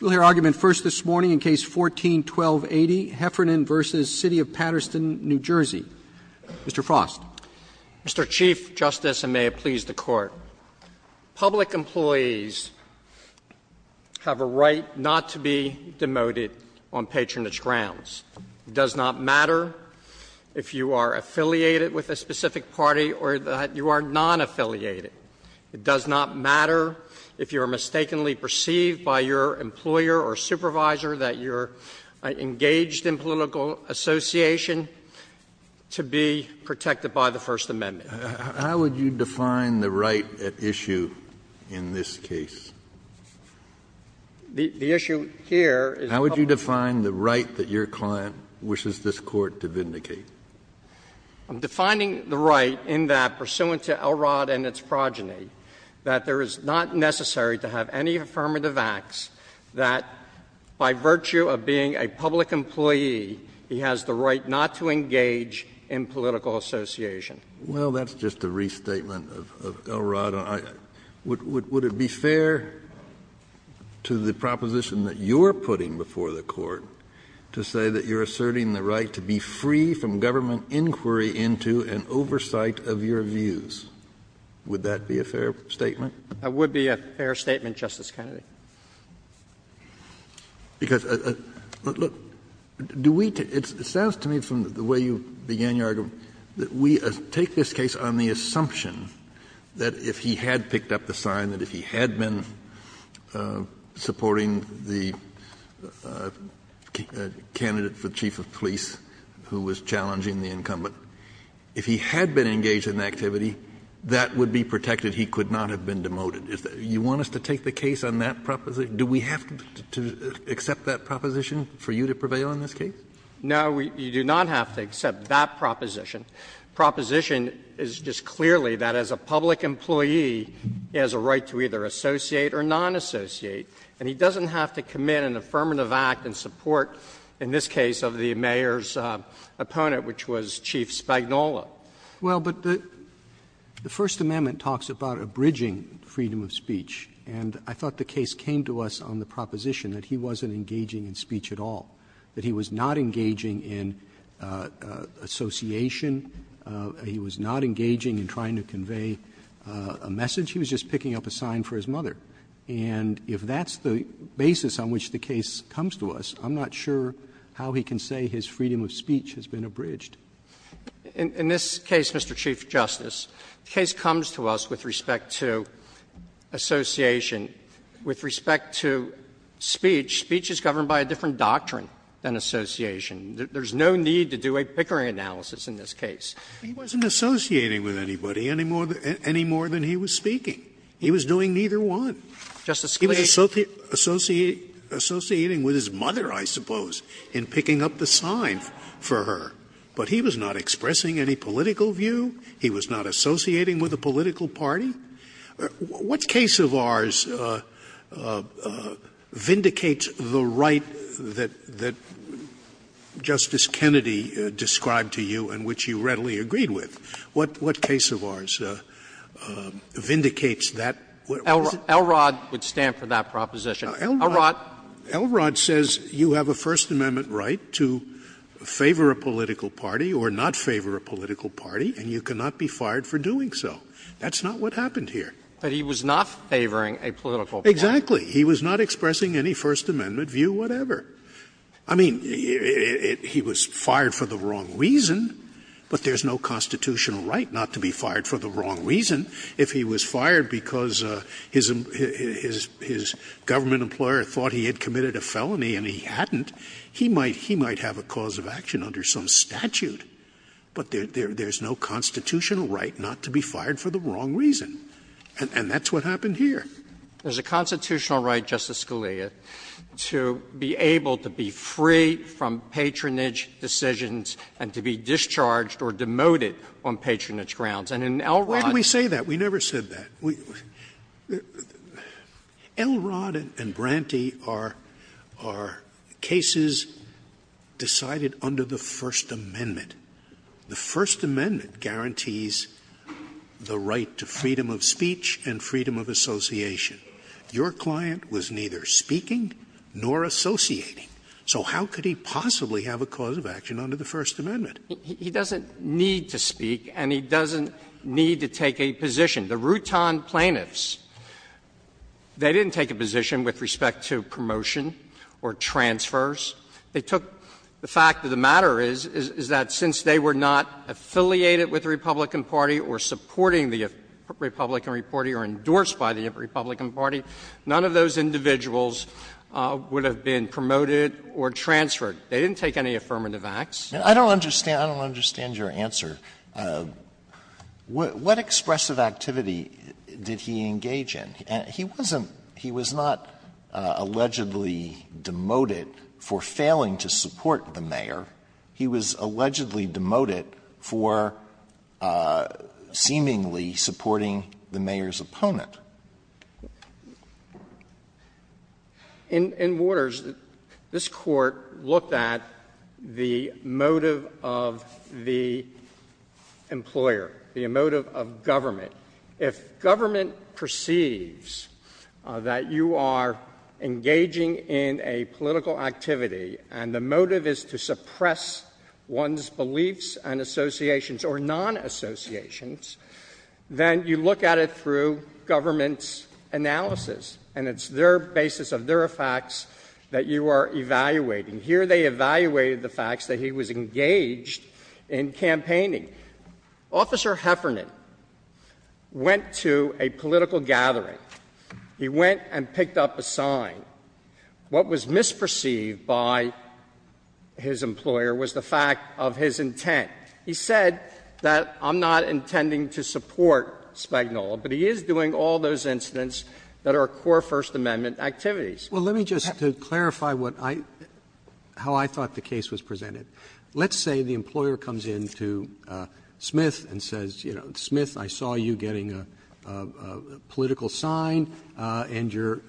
We'll hear argument first this morning in Case 14-1280, Heffernan v. City of Paterson, New Jersey. Mr. Frost. Mr. Chief Justice, and may it please the Court, public employees have a right not to be demoted on patronage grounds. It does not matter if you are affiliated with a specific party or that you are non-affiliated. It does not matter if you are mistakenly perceived by your employer or supervisor that you're engaged in political association to be protected by the First Amendment. Kennedy. How would you define the right at issue in this case? The issue here is public employees. How would you define the right that your client wishes this Court to vindicate? I'm defining the right in that, pursuant to Elrod and its progeny, that there is not necessary to have any affirmative acts that, by virtue of being a public employee, he has the right not to engage in political association. Well, that's just a restatement of Elrod. Would it be fair to the proposition that you're putting before the Court to say that you're asserting the right to be free from government inquiry into an oversight of your views? Would that be a fair statement? It would be a fair statement, Justice Kennedy. Because, look, do we to – it sounds to me from the way you began your argument that we take this case on the assumption that if he had picked up the sign, that if he had been supporting the candidate for chief of police who was challenging the incumbent, if he had been engaged in the activity, that would be protected. He could not have been demoted. You want us to take the case on that proposition? Do we have to accept that proposition for you to prevail in this case? No, you do not have to accept that proposition. The proposition is just clearly that as a public employee, he has a right to either associate or non-associate, and he doesn't have to commit an affirmative act in support, in this case, of the mayor's opponent, which was Chief Spagnola. Roberts. Roberts. Well, but the First Amendment talks about abridging freedom of speech, and I thought the case came to us on the proposition that he wasn't engaging in speech at all, that he was not engaging in association, he was not engaging in trying to convey a message, he was just picking up a sign for his mother. And if that's the basis on which the case comes to us, I'm not sure how he can say his freedom of speech has been abridged. In this case, Mr. Chief Justice, the case comes to us with respect to association. With respect to speech, speech is governed by a different doctrine than association. There's no need to do a Pickering analysis in this case. He wasn't associating with anybody any more than he was speaking. He was doing neither one. He was associating with his mother, I suppose, in picking up the sign for her. But he was not expressing any political view, he was not associating with a political party. Scalia, what case of ours vindicates the right that Justice Kennedy described to you and which you readily agreed with? What case of ours vindicates that? Elrod would stand for that proposition. Elrod says you have a First Amendment right to favor a political party or not favor a political party, and you cannot be fired for doing so. That's not what happened here. But he was not favoring a political party. Exactly. He was not expressing any First Amendment view whatever. I mean, he was fired for the wrong reason, but there's no constitutional right not to be fired for the wrong reason. If he was fired because his government employer thought he had committed a felony and he hadn't, he might have a cause of action under some statute. But there's no constitutional right not to be fired for the wrong reason, and that's what happened here. There's a constitutional right, Justice Scalia, to be able to be free from patronage decisions and to be discharged or demoted on patronage grounds. And in Elrod's case, we say that we never said that. Elrod and Branty are cases decided under the First Amendment. The First Amendment guarantees the right to freedom of speech and freedom of association. Your client was neither speaking nor associating, so how could he possibly have a cause of action under the First Amendment? He doesn't need to speak, and he doesn't need to take a position. The Routon plaintiffs, they didn't take a position with respect to promotion or transfers. They took the fact that the matter is, is that since they were not affiliated with the Republican Party or supporting the Republican Party or endorsed by the Republican Party, none of those individuals would have been promoted or transferred. They didn't take any affirmative acts. Alito, I don't understand your answer. What expressive activity did he engage in? He wasn't he was not allegedly demoted for failing to support the mayor. He was allegedly demoted for seemingly supporting the mayor's opponent. In Waters, this Court looked at the motive of the employer, the motive of government. If government perceives that you are engaging in a political activity and the motive is to suppress one's beliefs and associations or non-associations, then you look at it through government's analysis, and it's their basis of their facts that you are evaluating. Here they evaluated the facts that he was engaged in campaigning. Officer Heffernan went to a political gathering. He went and picked up a sign. What was misperceived by his employer was the fact of his intent. He said that I'm not intending to support Spagnola, but he is doing all those incidents that are core First Amendment activities. Roberts, to clarify what I, how I thought the case was presented, let's say the employer comes in to Smith and says, you know, Smith, I saw you getting a political sign, and you're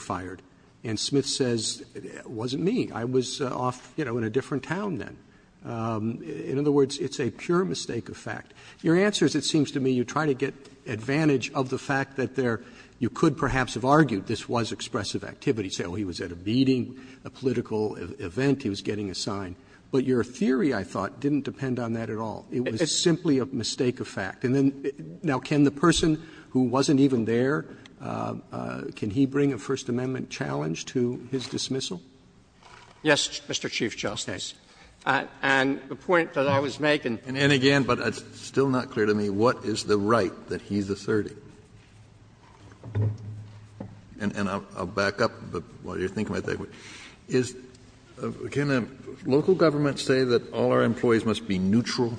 fired. And Smith says, it wasn't me, I was off, you know, in a different town then. In other words, it's a pure mistake of fact. Your answer is, it seems to me, you try to get advantage of the fact that there you could perhaps have argued this was expressive activity, say, oh, he was at a meeting, a political event, he was getting a sign. But your theory, I thought, didn't depend on that at all. It was simply a mistake of fact. And then, now, can the person who wasn't even there, can he bring a First Amendment challenge to his dismissal? Feigin. And the point that I was making, and again, but it's still not clear to me, what is the right that he's asserting? And I'll back up while you're thinking about that. Kennedy. Can a local government say that all our employees must be neutral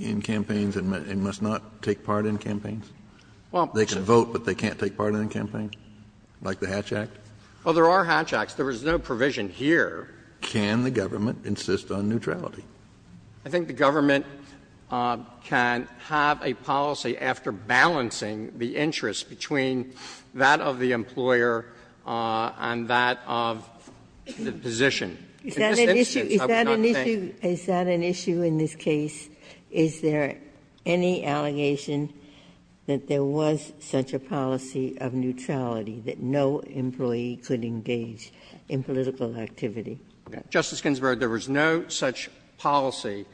in campaigns and must not take part in campaigns? They can vote, but they can't take part in campaigns? Like the Hatch Act? Well, there are Hatch Acts. There was no provision here. Can the government insist on neutrality? I think the government can have a policy, after balancing the interest between that of the employer and that of the position. Is that an issue? Is that an issue in this case? Is there any allegation that there was such a policy of neutrality, that no employee could engage in political activity? Justice Ginsburg, there was no such policy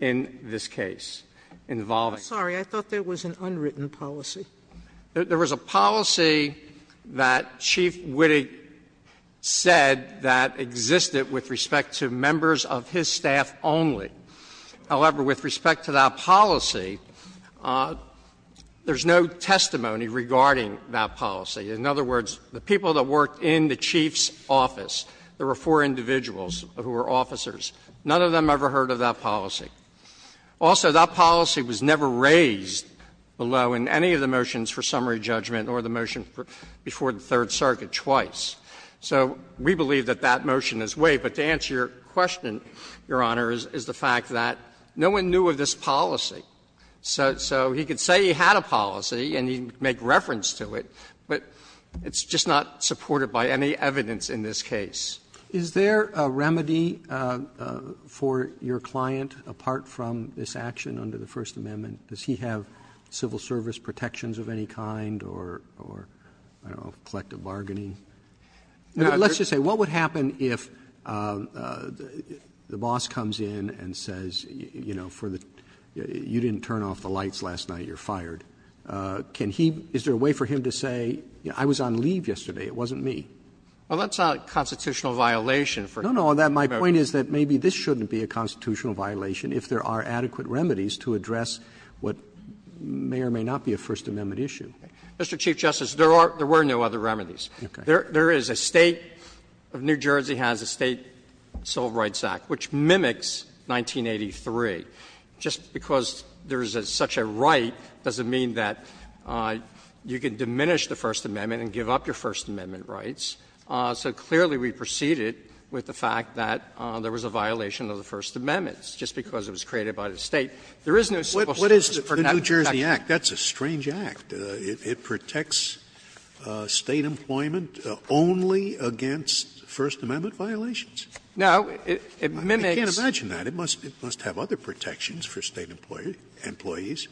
in this case involving. I'm sorry. I thought there was an unwritten policy. There was a policy that Chief Wittig said that existed with respect to members of his staff only. However, with respect to that policy, there's no testimony regarding that policy. In other words, the people that worked in the Chief's office, there were four individuals who were officers. None of them ever heard of that policy. Also, that policy was never raised below in any of the motions for summary judgment or the motion before the Third Circuit twice. So we believe that that motion is way. But to answer your question, Your Honor, is the fact that no one knew of this policy. So he could say he had a policy and he'd make reference to it, but it's just not supported by any evidence in this case. Roberts, is there a remedy for your client apart from this action under the First Amendment? Does he have civil service protections of any kind or, I don't know, collective bargaining? Let's just say, what would happen if the boss comes in and says, you know, for the you didn't turn off the lights last night, you're fired? Can he – is there a way for him to say, you know, I was on leave yesterday, it wasn't me? Well, that's not a constitutional violation for him. No, no. My point is that maybe this shouldn't be a constitutional violation if there are adequate remedies to address what may or may not be a First Amendment issue. Mr. Chief Justice, there are – there were no other remedies. There is a State of New Jersey has a State Civil Rights Act, which mimics 1983. Just because there is such a right doesn't mean that you can diminish the First Amendment rights. So clearly we preceded with the fact that there was a violation of the First Amendment just because it was created by the State. There is no civil service protection. Scalia. What is the New Jersey Act? That's a strange act. It protects State employment only against First Amendment violations. No, it mimics — I can't imagine that. It must have other protections for State employees.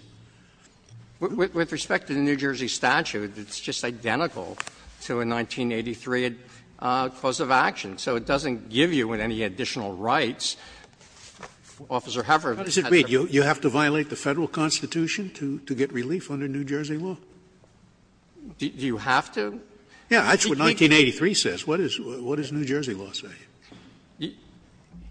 With respect to the New Jersey statute, it's just identical to a 1983 clause of action. So it doesn't give you any additional rights. Officer Hefferon has said that. You have to violate the Federal Constitution to get relief under New Jersey law? Do you have to? Yes. That's what 1983 says. What does New Jersey law say?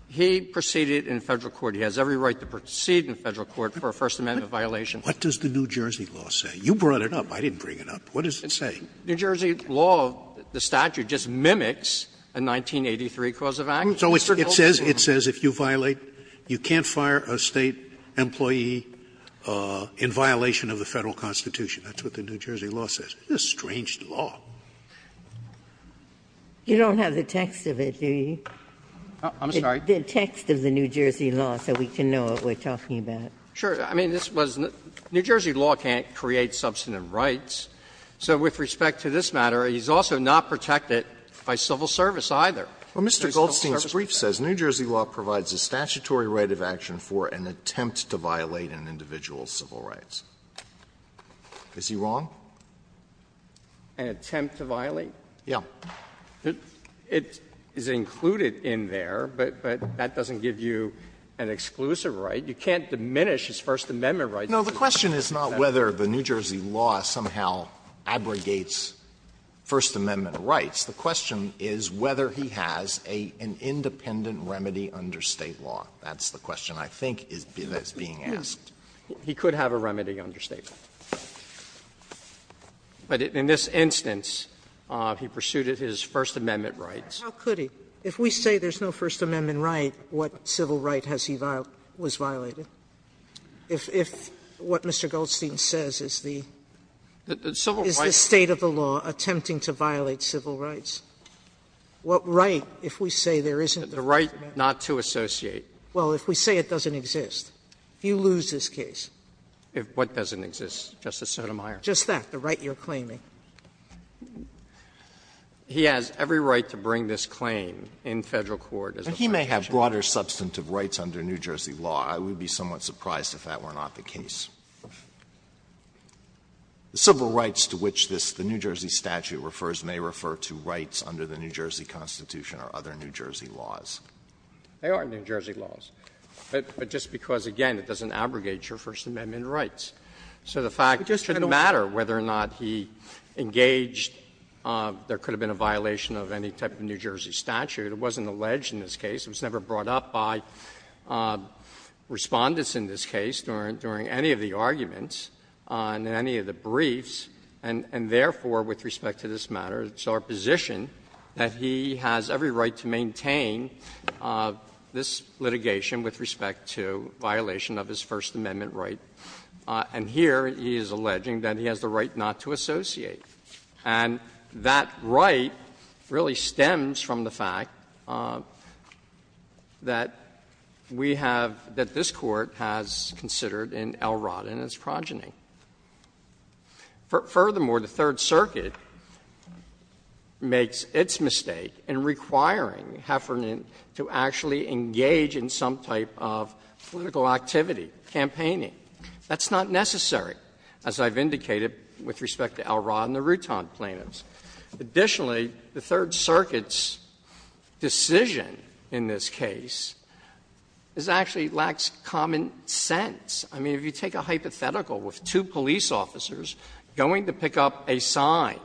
He proceeded in Federal court. He has every right to proceed in Federal court for a First Amendment violation. What does the New Jersey law say? You brought it up. I didn't bring it up. What does it say? New Jersey law, the statute, just mimics a 1983 clause of action. So it says if you violate, you can't fire a State employee in violation of the Federal Constitution. That's what the New Jersey law says. It's a strange law. You don't have the text of it, do you? I'm sorry? The text of the New Jersey law, so we can know what we're talking about. Sure. I mean, this was the New Jersey law can't create substantive rights. So with respect to this matter, he's also not protected by civil service either. Mr. Goldstein's brief says New Jersey law provides a statutory right of action for an attempt to violate an individual's civil rights. Is he wrong? An attempt to violate? Yes. So it is included in there, but that doesn't give you an exclusive right. You can't diminish his First Amendment rights. No, the question is not whether the New Jersey law somehow abrogates First Amendment rights. The question is whether he has an independent remedy under State law. That's the question I think is being asked. He could have a remedy under State law. But in this instance, he pursued his First Amendment rights. How could he? If we say there's no First Amendment right, what civil right has he violated? Was violated? If what Mr. Goldstein says is the State of the law attempting to violate civil rights, what right, if we say there isn't the First Amendment? The right not to associate. Well, if we say it doesn't exist, you lose this case. If what doesn't exist, Justice Sotomayor? Just that, the right you're claiming. He has every right to bring this claim in Federal court as an objection. He may have broader substantive rights under New Jersey law. I would be somewhat surprised if that were not the case. The civil rights to which this, the New Jersey statute refers, may refer to rights under the New Jersey Constitution or other New Jersey laws. They are New Jersey laws. But just because, again, it doesn't abrogate your First Amendment rights. So the fact it shouldn't matter whether or not he engaged, there could have been a violation of any type of New Jersey statute. It wasn't alleged in this case. It was never brought up by Respondents in this case during any of the arguments on any of the briefs. And therefore, with respect to this matter, it's our position that he has every right to maintain this litigation with respect to violation of his First Amendment right. And here he is alleging that he has the right not to associate. And that right really stems from the fact that we have, that this Court has considered in Elrod and his progeny. Furthermore, the Third Circuit makes its mistake in requiring Heffernan to actually engage in some type of political activity, campaigning. That's not necessary, as I've indicated with respect to Elrod and the Rutan plaintiffs. Additionally, the Third Circuit's decision in this case is actually lacks common sense. I mean, if you take a hypothetical with two police officers going to pick up a sign,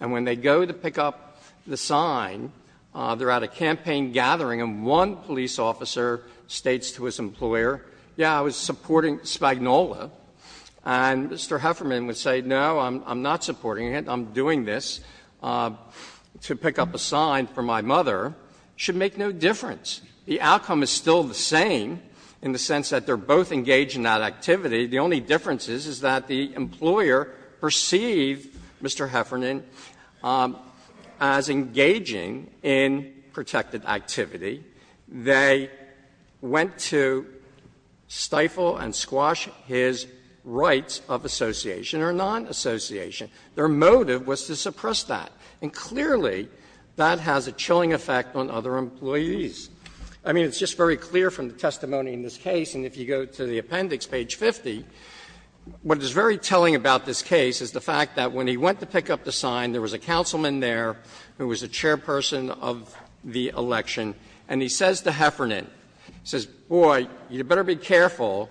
and when they go to pick up the sign, they are at a campaign gathering and one police officer states to his employer, yes, I was supporting Spagnuolo, and Mr. Heffernan would say, no, I'm not supporting it, I'm doing this to pick up a sign for my mother, it should make no difference. The outcome is still the same in the sense that they are both engaged in that activity. The only difference is that the employer perceived Mr. Heffernan as engaging in protected activity. They went to stifle and squash his rights of association or non-association. Their motive was to suppress that. And clearly, that has a chilling effect on other employees. I mean, it's just very clear from the testimony in this case, and if you go to the appendix, page 50, what is very telling about this case is the fact that when he went to pick up the sign, there was a councilman there who was the chairperson of the election, and he says to Heffernan, he says, boy, you had better be careful,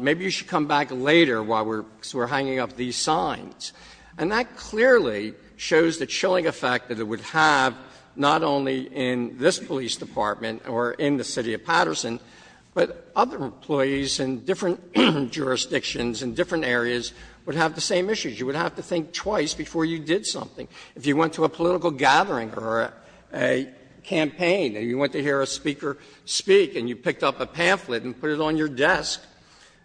maybe you should come back later while we're hanging up these signs. And that clearly shows the chilling effect that it would have not only in this police department or in the city of Patterson, but other employees in different jurisdictions and different areas would have the same issues. You would have to think twice before you did something. If you went to a political gathering or a campaign and you went to hear a speaker speak and you picked up a pamphlet and put it on your desk,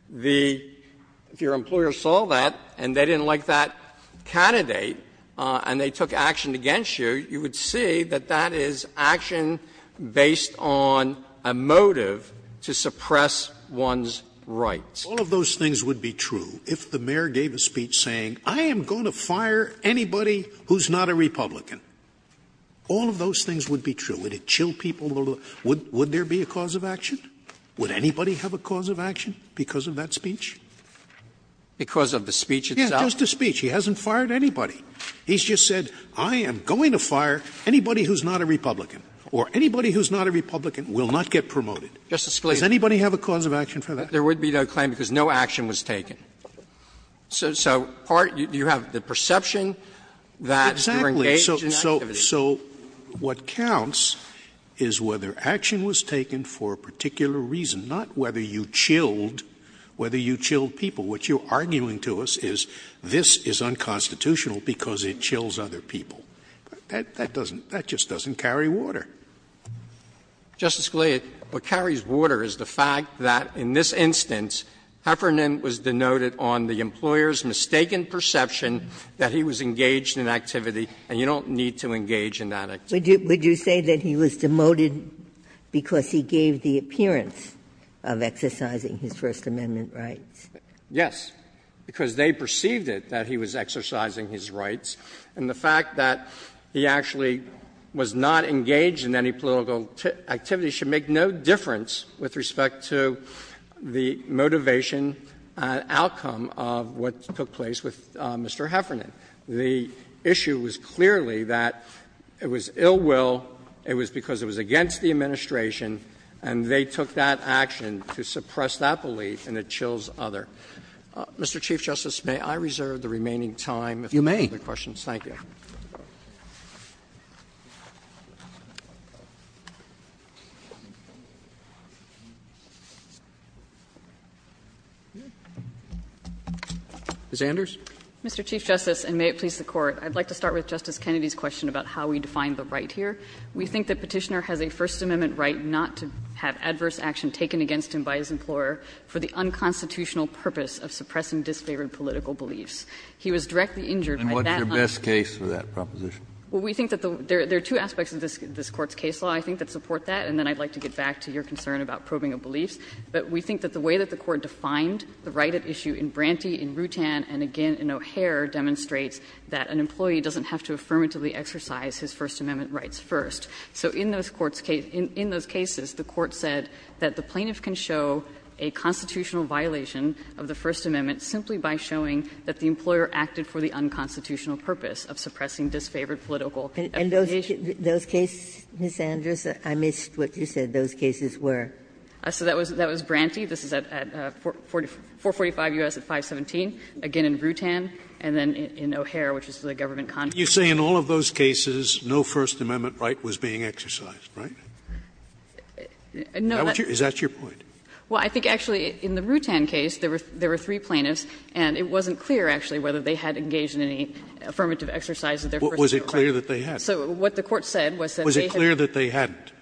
the — if your employer saw that and they didn't like that candidate and they took action against you, you would see that that is action based on a motive to suppress one's rights. Scalia. All of those things would be true if the mayor gave a speech saying, I am going to fire anybody who's not a Republican. All of those things would be true. Would it chill people? Would there be a cause of action? Would anybody have a cause of action because of that speech? Because of the speech itself? Yes, just a speech. He hasn't fired anybody. He's just said, I am going to fire anybody who's not a Republican, or anybody who's not a Republican will not get promoted. Justice Scalia. Does anybody have a cause of action for that? There would be no claim because no action was taken. So part — you have the perception that you're engaged in activity. Exactly. So what counts is whether action was taken for a particular reason, not whether you chilled — whether you chilled people. What you're arguing to us is this is unconstitutional because it chills other people. That doesn't — that just doesn't carry water. Justice Scalia, what carries water is the fact that in this instance, Heffernan was denoted on the employer's mistaken perception that he was engaged in activity, and you don't need to engage in that activity. Would you say that he was demoted because he gave the appearance of exercising his First Amendment rights? Yes, because they perceived it, that he was exercising his rights. And the fact that he actually was not engaged in any political activity should make no difference with respect to the motivation and outcome of what took place with Mr. Heffernan. The issue was clearly that it was ill will, it was because it was against the administration, and they took that action to suppress that belief and it chills other. Mr. Chief Justice, may I reserve the remaining time if there are no other questions? Thank you. Mr. Chief Justice, and may it please the Court. I'd like to start with Justice Kennedy's question about how we define the right here. We think that Petitioner has a First Amendment right not to have adverse action taken against him by his employer for the unconstitutional purpose of suppressing disfavored political beliefs. He was directly injured by that. Kennedy, and what's your best case for that proposition? Well, we think that there are two aspects of this Court's case law, I think, that support that, and then I'd like to get back to your concern about probing of beliefs. But we think that the way that the Court defined the right at issue in Branty, in Rutan, and again in O'Hare demonstrates that an employee doesn't have to affirmatively exercise his First Amendment rights first. So in those Court's case, in those cases, the Court said that the plaintiff can show a constitutional violation of the First Amendment simply by showing that the employer acted for the unconstitutional purpose of suppressing disfavored political affiliation. And those cases, Ms. Andrews, I missed what you said those cases were. So that was Branty. This is at 445 U.S. at 517, again in Rutan, and then in O'Hare, which is the government contract. Scalia You say in all of those cases no First Amendment right was being exercised, right? Is that your point? Andrews Well, I think actually in the Rutan case, there were three plaintiffs, and it wasn't clear, actually, whether they had engaged in any affirmative exercise of their First Amendment rights. Scalia Was it clear that they had? Andrews So what the Court said was that they hadn't. Scalia Was it clear that they hadn't? Andrews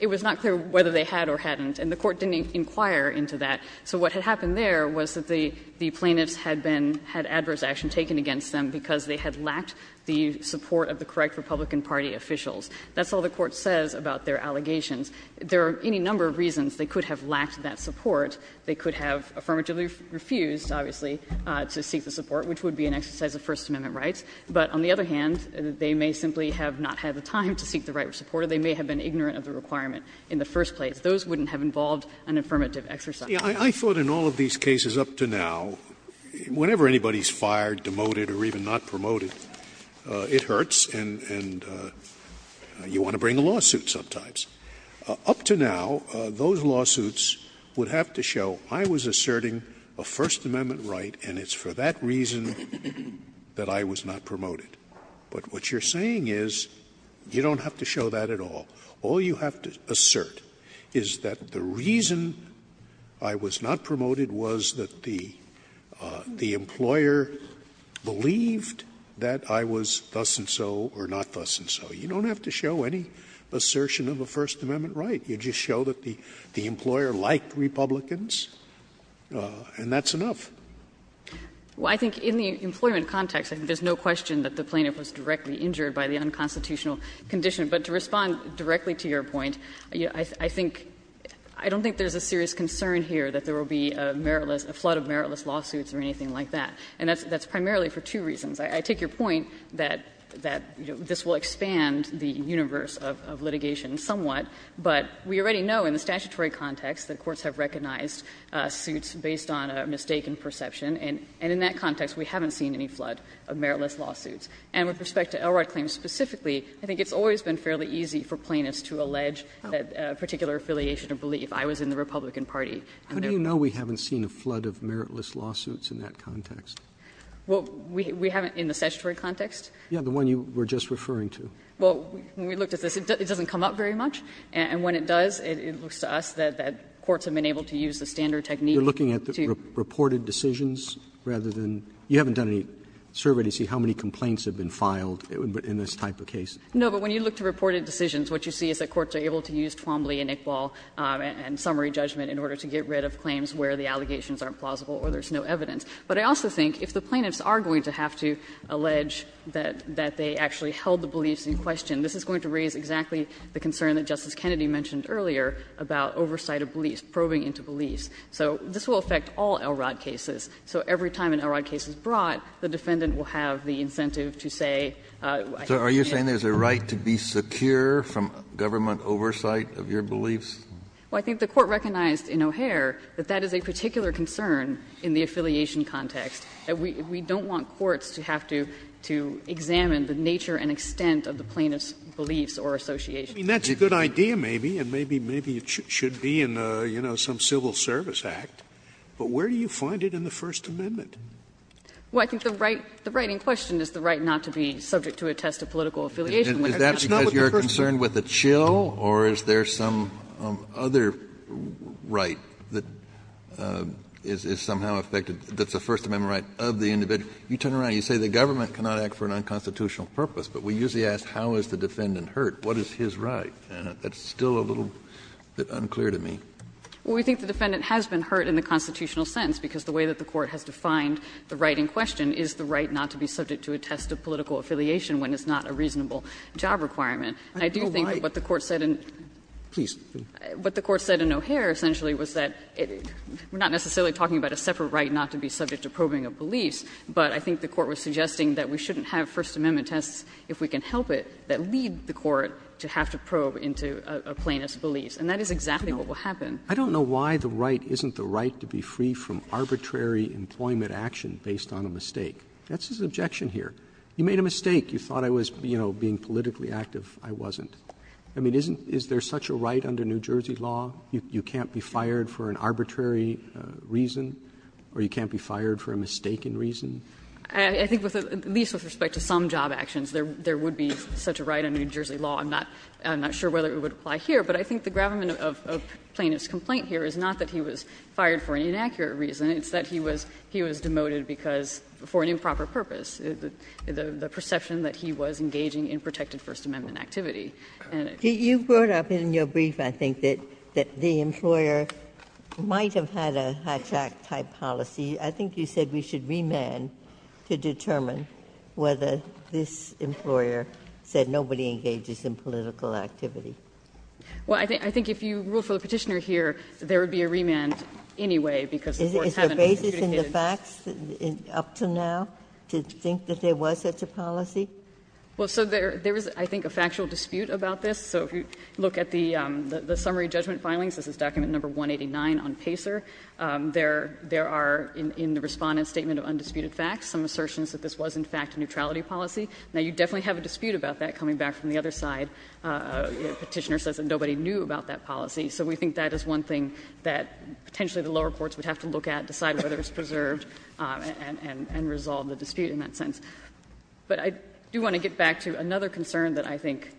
It was not clear whether they had or hadn't, and the Court didn't inquire into that. So what had happened there was that the plaintiffs had been, had adverse action taken against them because they had lacked the support of the correct Republican Party officials. That's all the Court says about their allegations. There are any number of reasons they could have lacked that support. They could have affirmatively refused, obviously, to seek the support, which would be an exercise of First Amendment rights. But on the other hand, they may simply have not had the time to seek the right of support or they may have been ignorant of the requirement in the first place. Those wouldn't have involved an affirmative exercise. Scalia I thought in all of these cases up to now, whenever anybody is fired, demoted or even not promoted, it hurts and you want to bring a lawsuit sometimes. Up to now, those lawsuits would have to show, I was asserting a First Amendment right and it's for that reason that I was not promoted. But what you're saying is you don't have to show that at all. All you have to assert is that the reason I was not promoted was that the employer believed that I was thus and so or not thus and so. You don't have to show any assertion of a First Amendment right. You just show that the employer liked Republicans and that's enough. Anderson Well, I think in the employment context, I think there's no question that the plaintiff was directly injured by the unconstitutional condition. But to respond directly to your point, I think — I don't think there's a serious concern here that there will be a meritless — a flood of meritless lawsuits or anything like that. And that's primarily for two reasons. I take your point that this will expand the universe of litigation somewhat, but we already know in the statutory context that courts have recognized suits based on a mistaken perception, and in that context we haven't seen any flood of meritless lawsuits. And with respect to Elrod claims specifically, I think it's always been fairly easy for plaintiffs to allege that particular affiliation of belief. I was in the Republican Party. Roberts How do you know we haven't seen a flood of meritless lawsuits in that context? Anderson Well, we haven't in the statutory context. Roberts Yes, the one you were just referring to. Anderson Well, when we looked at this, it doesn't come up very much. And when it does, it looks to us that courts have been able to use the standard technique to do that. Roberts You're looking at the reported decisions rather than — you haven't done any survey to see how many complaints have been filed in this type of case. Anderson No, but when you look to reported decisions, what you see is that courts are able to use Twombly and Iqbal and summary judgment in order to get rid of claims where the allegations aren't plausible or there's no evidence. But I also think if the plaintiffs are going to have to allege that they actually held the beliefs in question, this is going to raise exactly the concern that Justice Kennedy mentioned earlier about oversight of beliefs, probing into beliefs. So this will affect all Elrod cases. So every time an Elrod case is brought, the defendant will have the incentive to say, I have a belief in Elrod. Kennedy So are you saying there's a right to be secure from government oversight of your beliefs? Well, I think the Court recognized in O'Hare that that is a particular concern in the affiliation context. We don't want courts to have to examine the nature and extent of the plaintiff's beliefs or associations. Scalia I mean, that's a good idea maybe, and maybe it should be in, you know, some civil service act. But where do you find it in the First Amendment? Well, I think the right in question is the right not to be subject to a test of political affiliation. Kennedy Is that because you're concerned with the chill or is there some other right that is somehow affected that's a First Amendment right of the individual? You turn around, you say the government cannot act for an unconstitutional purpose, but we usually ask how is the defendant hurt? What is his right? And that's still a little bit unclear to me. Well, we think the defendant has been hurt in the constitutional sense, because the way that the Court has defined the right in question is the right not to be subject to a test of political affiliation when it's not a reasonable job requirement. And I do think that what the Court said in O'Hare essentially was that we're not necessarily talking about a separate right not to be subject to probing of beliefs, but I think the Court was suggesting that we shouldn't have First Amendment tests if we can help it that lead the Court to have to probe into a plaintiff's beliefs. And that is exactly what will happen. Roberts I don't know why the right isn't the right to be free from arbitrary employment action based on a mistake. That's his objection here. You made a mistake. You thought I was, you know, being politically active. I wasn't. I mean, isn't there such a right under New Jersey law? You can't be fired for an arbitrary reason or you can't be fired for a mistaken reason? I think at least with respect to some job actions, there would be such a right under New Jersey law. I'm not sure whether it would apply here, but I think the gravamen of Plaintiff's complaint here is not that he was fired for an inaccurate reason. It's that he was demoted because, for an improper purpose, the perception that he was engaging in protected First Amendment activity. And it's not that he was fired for an inaccurate reason. Ginsburg You brought up in your brief, I think, that the employer might have had a high-track type policy. I think you said we should remand to determine whether this employer said nobody engages in political activity. Well, I think if you rule for the Petitioner here, there would be a remand anyway, because the courts haven't adjudicated. Is there basis in the facts up to now to think that there was such a policy? Well, so there is, I think, a factual dispute about this. So if you look at the summary judgment filings, this is document number 189 on Pacer, there are in the Respondent's statement of undisputed facts some assertions that this was, in fact, a neutrality policy. Now, you definitely have a dispute about that coming back from the other side. Petitioner says that nobody knew about that policy. So we think that is one thing that potentially the lower courts would have to look at, decide whether it's preserved, and resolve the dispute in that sense. But I do want to get back to another concern that I think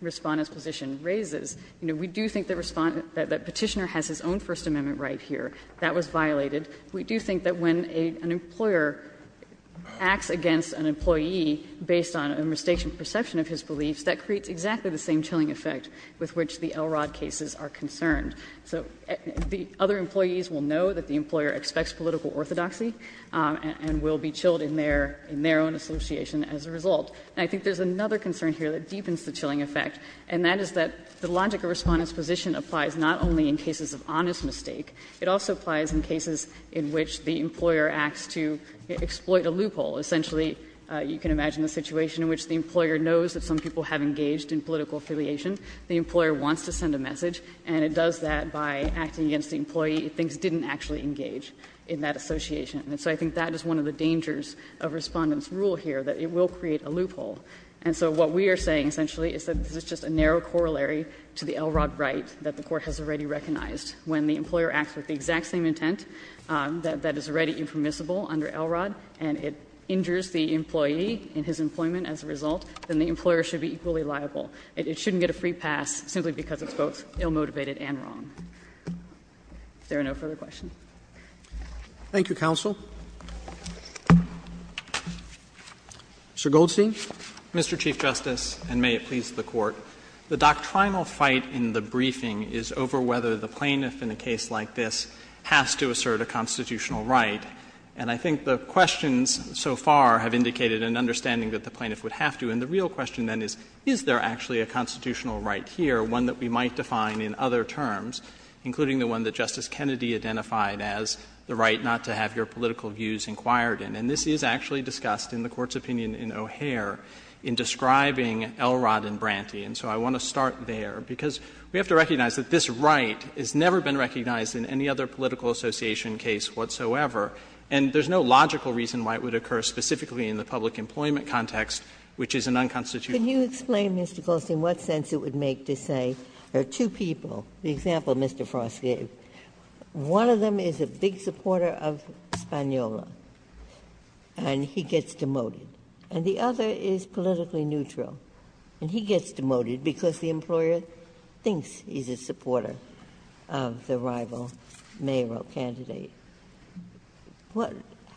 Respondent's position raises. You know, we do think that Respondent — that Petitioner has his own First Amendment right here that was violated. We do think that when an employer acts against an employee based on a misstatement perception of his beliefs, that creates exactly the same chilling effect with which the Elrod cases are concerned. So the other employees will know that the employer expects political orthodoxy and will be chilled in their own association as a result. And I think there is another concern here that deepens the chilling effect, and that is that the logic of Respondent's position applies not only in cases of honest mistake, it also applies in cases in which the employer acts to exploit a loophole. Essentially, you can imagine a situation in which the employer knows that some people have engaged in political affiliation. The employer wants to send a message, and it does that by acting against the employee it thinks didn't actually engage in that association. And so I think that is one of the dangers of Respondent's rule here, that it will create a loophole. And so what we are saying essentially is that this is just a narrow corollary to the Elrod right that the Court has already recognized. When the employer acts with the exact same intent that is already impermissible under Elrod, and it injures the employee in his employment as a result, then the employer should be equally liable. It shouldn't get a free pass simply because it's both ill-motivated and wrong. If there are no further questions. Roberts. Thank you, counsel. Mr. Goldstein. Mr. Chief Justice, and may it please the Court. The doctrinal fight in the briefing is over whether the plaintiff in a case like this has to assert a constitutional right. And I think the questions so far have indicated an understanding that the plaintiff would have to. And the real question then is, is there actually a constitutional right here, one that we might define in other terms, including the one that Justice Kennedy identified as the right not to have your political views inquired in. And this is actually discussed in the Court's opinion in O'Hare in describing Elrod and Branty. And so I want to start there, because we have to recognize that this right has never been recognized in any other political association case whatsoever. And there's no logical reason why it would occur specifically in the public employment context, which is an unconstitutional right. Ginsburg. Can you explain, Mr. Goldstein, what sense it would make to say there are two people, the example Mr. Frost gave, one of them is a big supporter of Spagnuolo, and he gets demoted, and the other is politically neutral. And he gets demoted because the employer thinks he's a supporter of the rival mayoral candidate.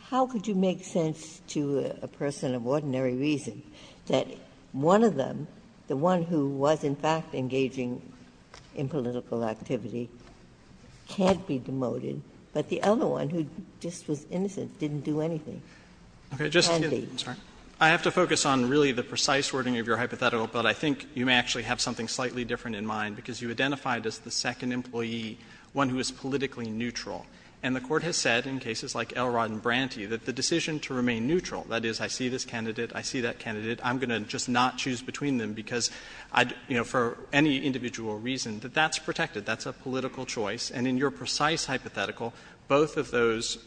How could you make sense to a person of ordinary reason that one of them, the one who was in fact engaging in political activity, can't be demoted, but the other one who just was innocent didn't do anything? Andy. Goldstein, I'm sorry. Goldstein, I have to focus on really the precise wording of your hypothetical, but I think you may actually have something slightly different in mind, because you identified as the second employee one who is politically neutral. And the Court has said in cases like Elrod and Branty that the decision to remain neutral, that is, I see this candidate, I see that candidate, I'm going to just not choose between them, because I'd, you know, for any individual reason, that that's protected, that's a political choice. And in your precise hypothetical, both of those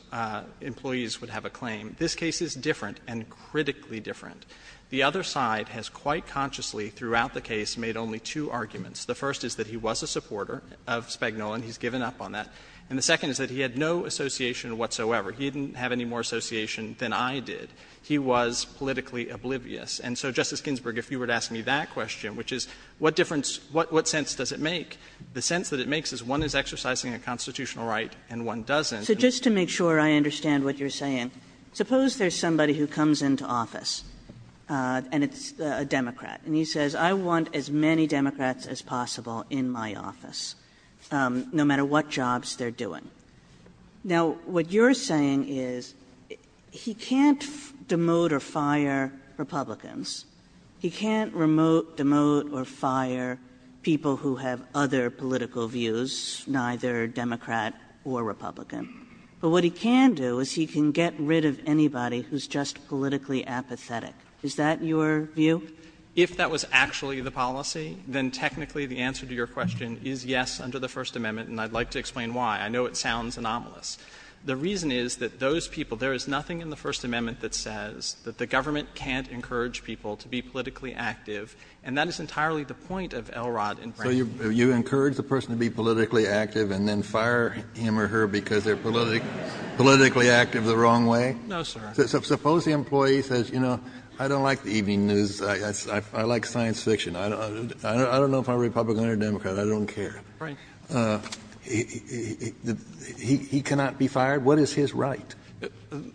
employees would have a claim. This case is different and critically different. The other side has quite consciously throughout the case made only two arguments. The first is that he was a supporter of Spagnuol, and he's given up on that. And the second is that he had no association whatsoever. He didn't have any more association than I did. He was politically oblivious. And so, Justice Ginsburg, if you were to ask me that question, which is what difference what sense does it make, the sense that it makes is one is exercising a constitutional right and one doesn't. Kagan. So just to make sure I understand what you're saying, suppose there's somebody who comes into office and it's a Democrat, and he says, I want as many Democrats as possible in my office, no matter what jobs they are doing. Now, what you're saying is, he can't demote or fire Republicans. He can't remove, demote or fire people who have other political views, neither Democrat or Republican. But what he can do is he can get rid of anybody who's just politically apathetic. Is that your view? If that was actually the policy, then technically the answer to your question is yes under the First Amendment, and I'd like to explain why. I know it sounds anomalous. The reason is that those people, there is nothing in the First Amendment that says that the government can't encourage people to be politically active, and that is entirely the point of Elrod and Branstad. Kennedy, so you encourage the person to be politically active and then fire him or her because they're politically active the wrong way? No, sir. Suppose the employee says, you know, I don't like the evening news, I like science fiction, I don't know if I'm a Republican or a Democrat, I don't care. He cannot be fired? What is his right?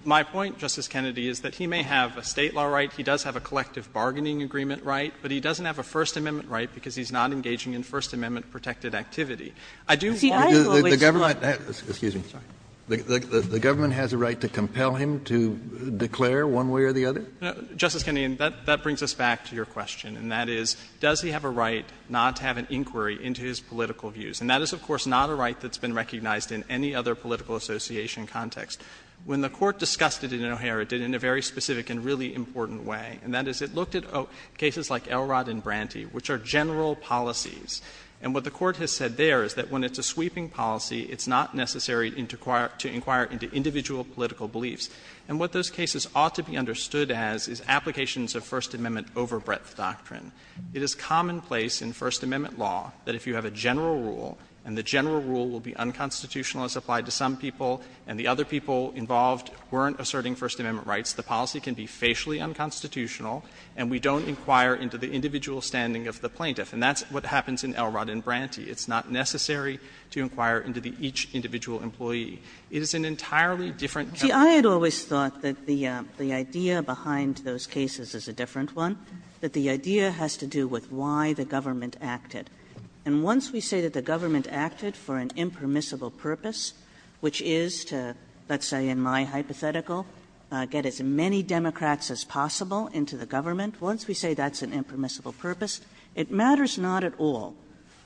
My point, Justice Kennedy, is that he may have a State law right, he does have a collective bargaining agreement right, but he doesn't have a First Amendment right because he's not engaging in First Amendment-protected activity. I do hold that the government has a right to compel him to declare one way or the other? Justice Kennedy, that brings us back to your question, and that is, does he have a right not to have an inquiry into his political views? And that is, of course, not a right that's been recognized in any other political association context. When the Court discussed it in O'Hara, it did it in a very specific and really important way, and that is, it looked at cases like Elrod and Branty, which are general policies. And what the Court has said there is that when it's a sweeping policy, it's not necessary to inquire into individual political beliefs. And what those cases ought to be understood as is applications of First Amendment overbreadth doctrine. It is commonplace in First Amendment law that if you have a general rule and the general rule will be unconstitutional as applied to some people and the other people involved the policy can be facially unconstitutional, and we don't inquire into the individual standing of the plaintiff. And that's what happens in Elrod and Branty. It's not necessary to inquire into the each individual employee. It is an entirely different kind of political process. Kagan. Kagan. Kagan. I always thought that the idea behind those cases is a different one, that the idea has to do with why the government acted. And once we say that the government acted for an impermissible purpose, which is to, let's say in my hypothetical, get as many Democrats as possible into the government, once we say that's an impermissible purpose, it matters not at all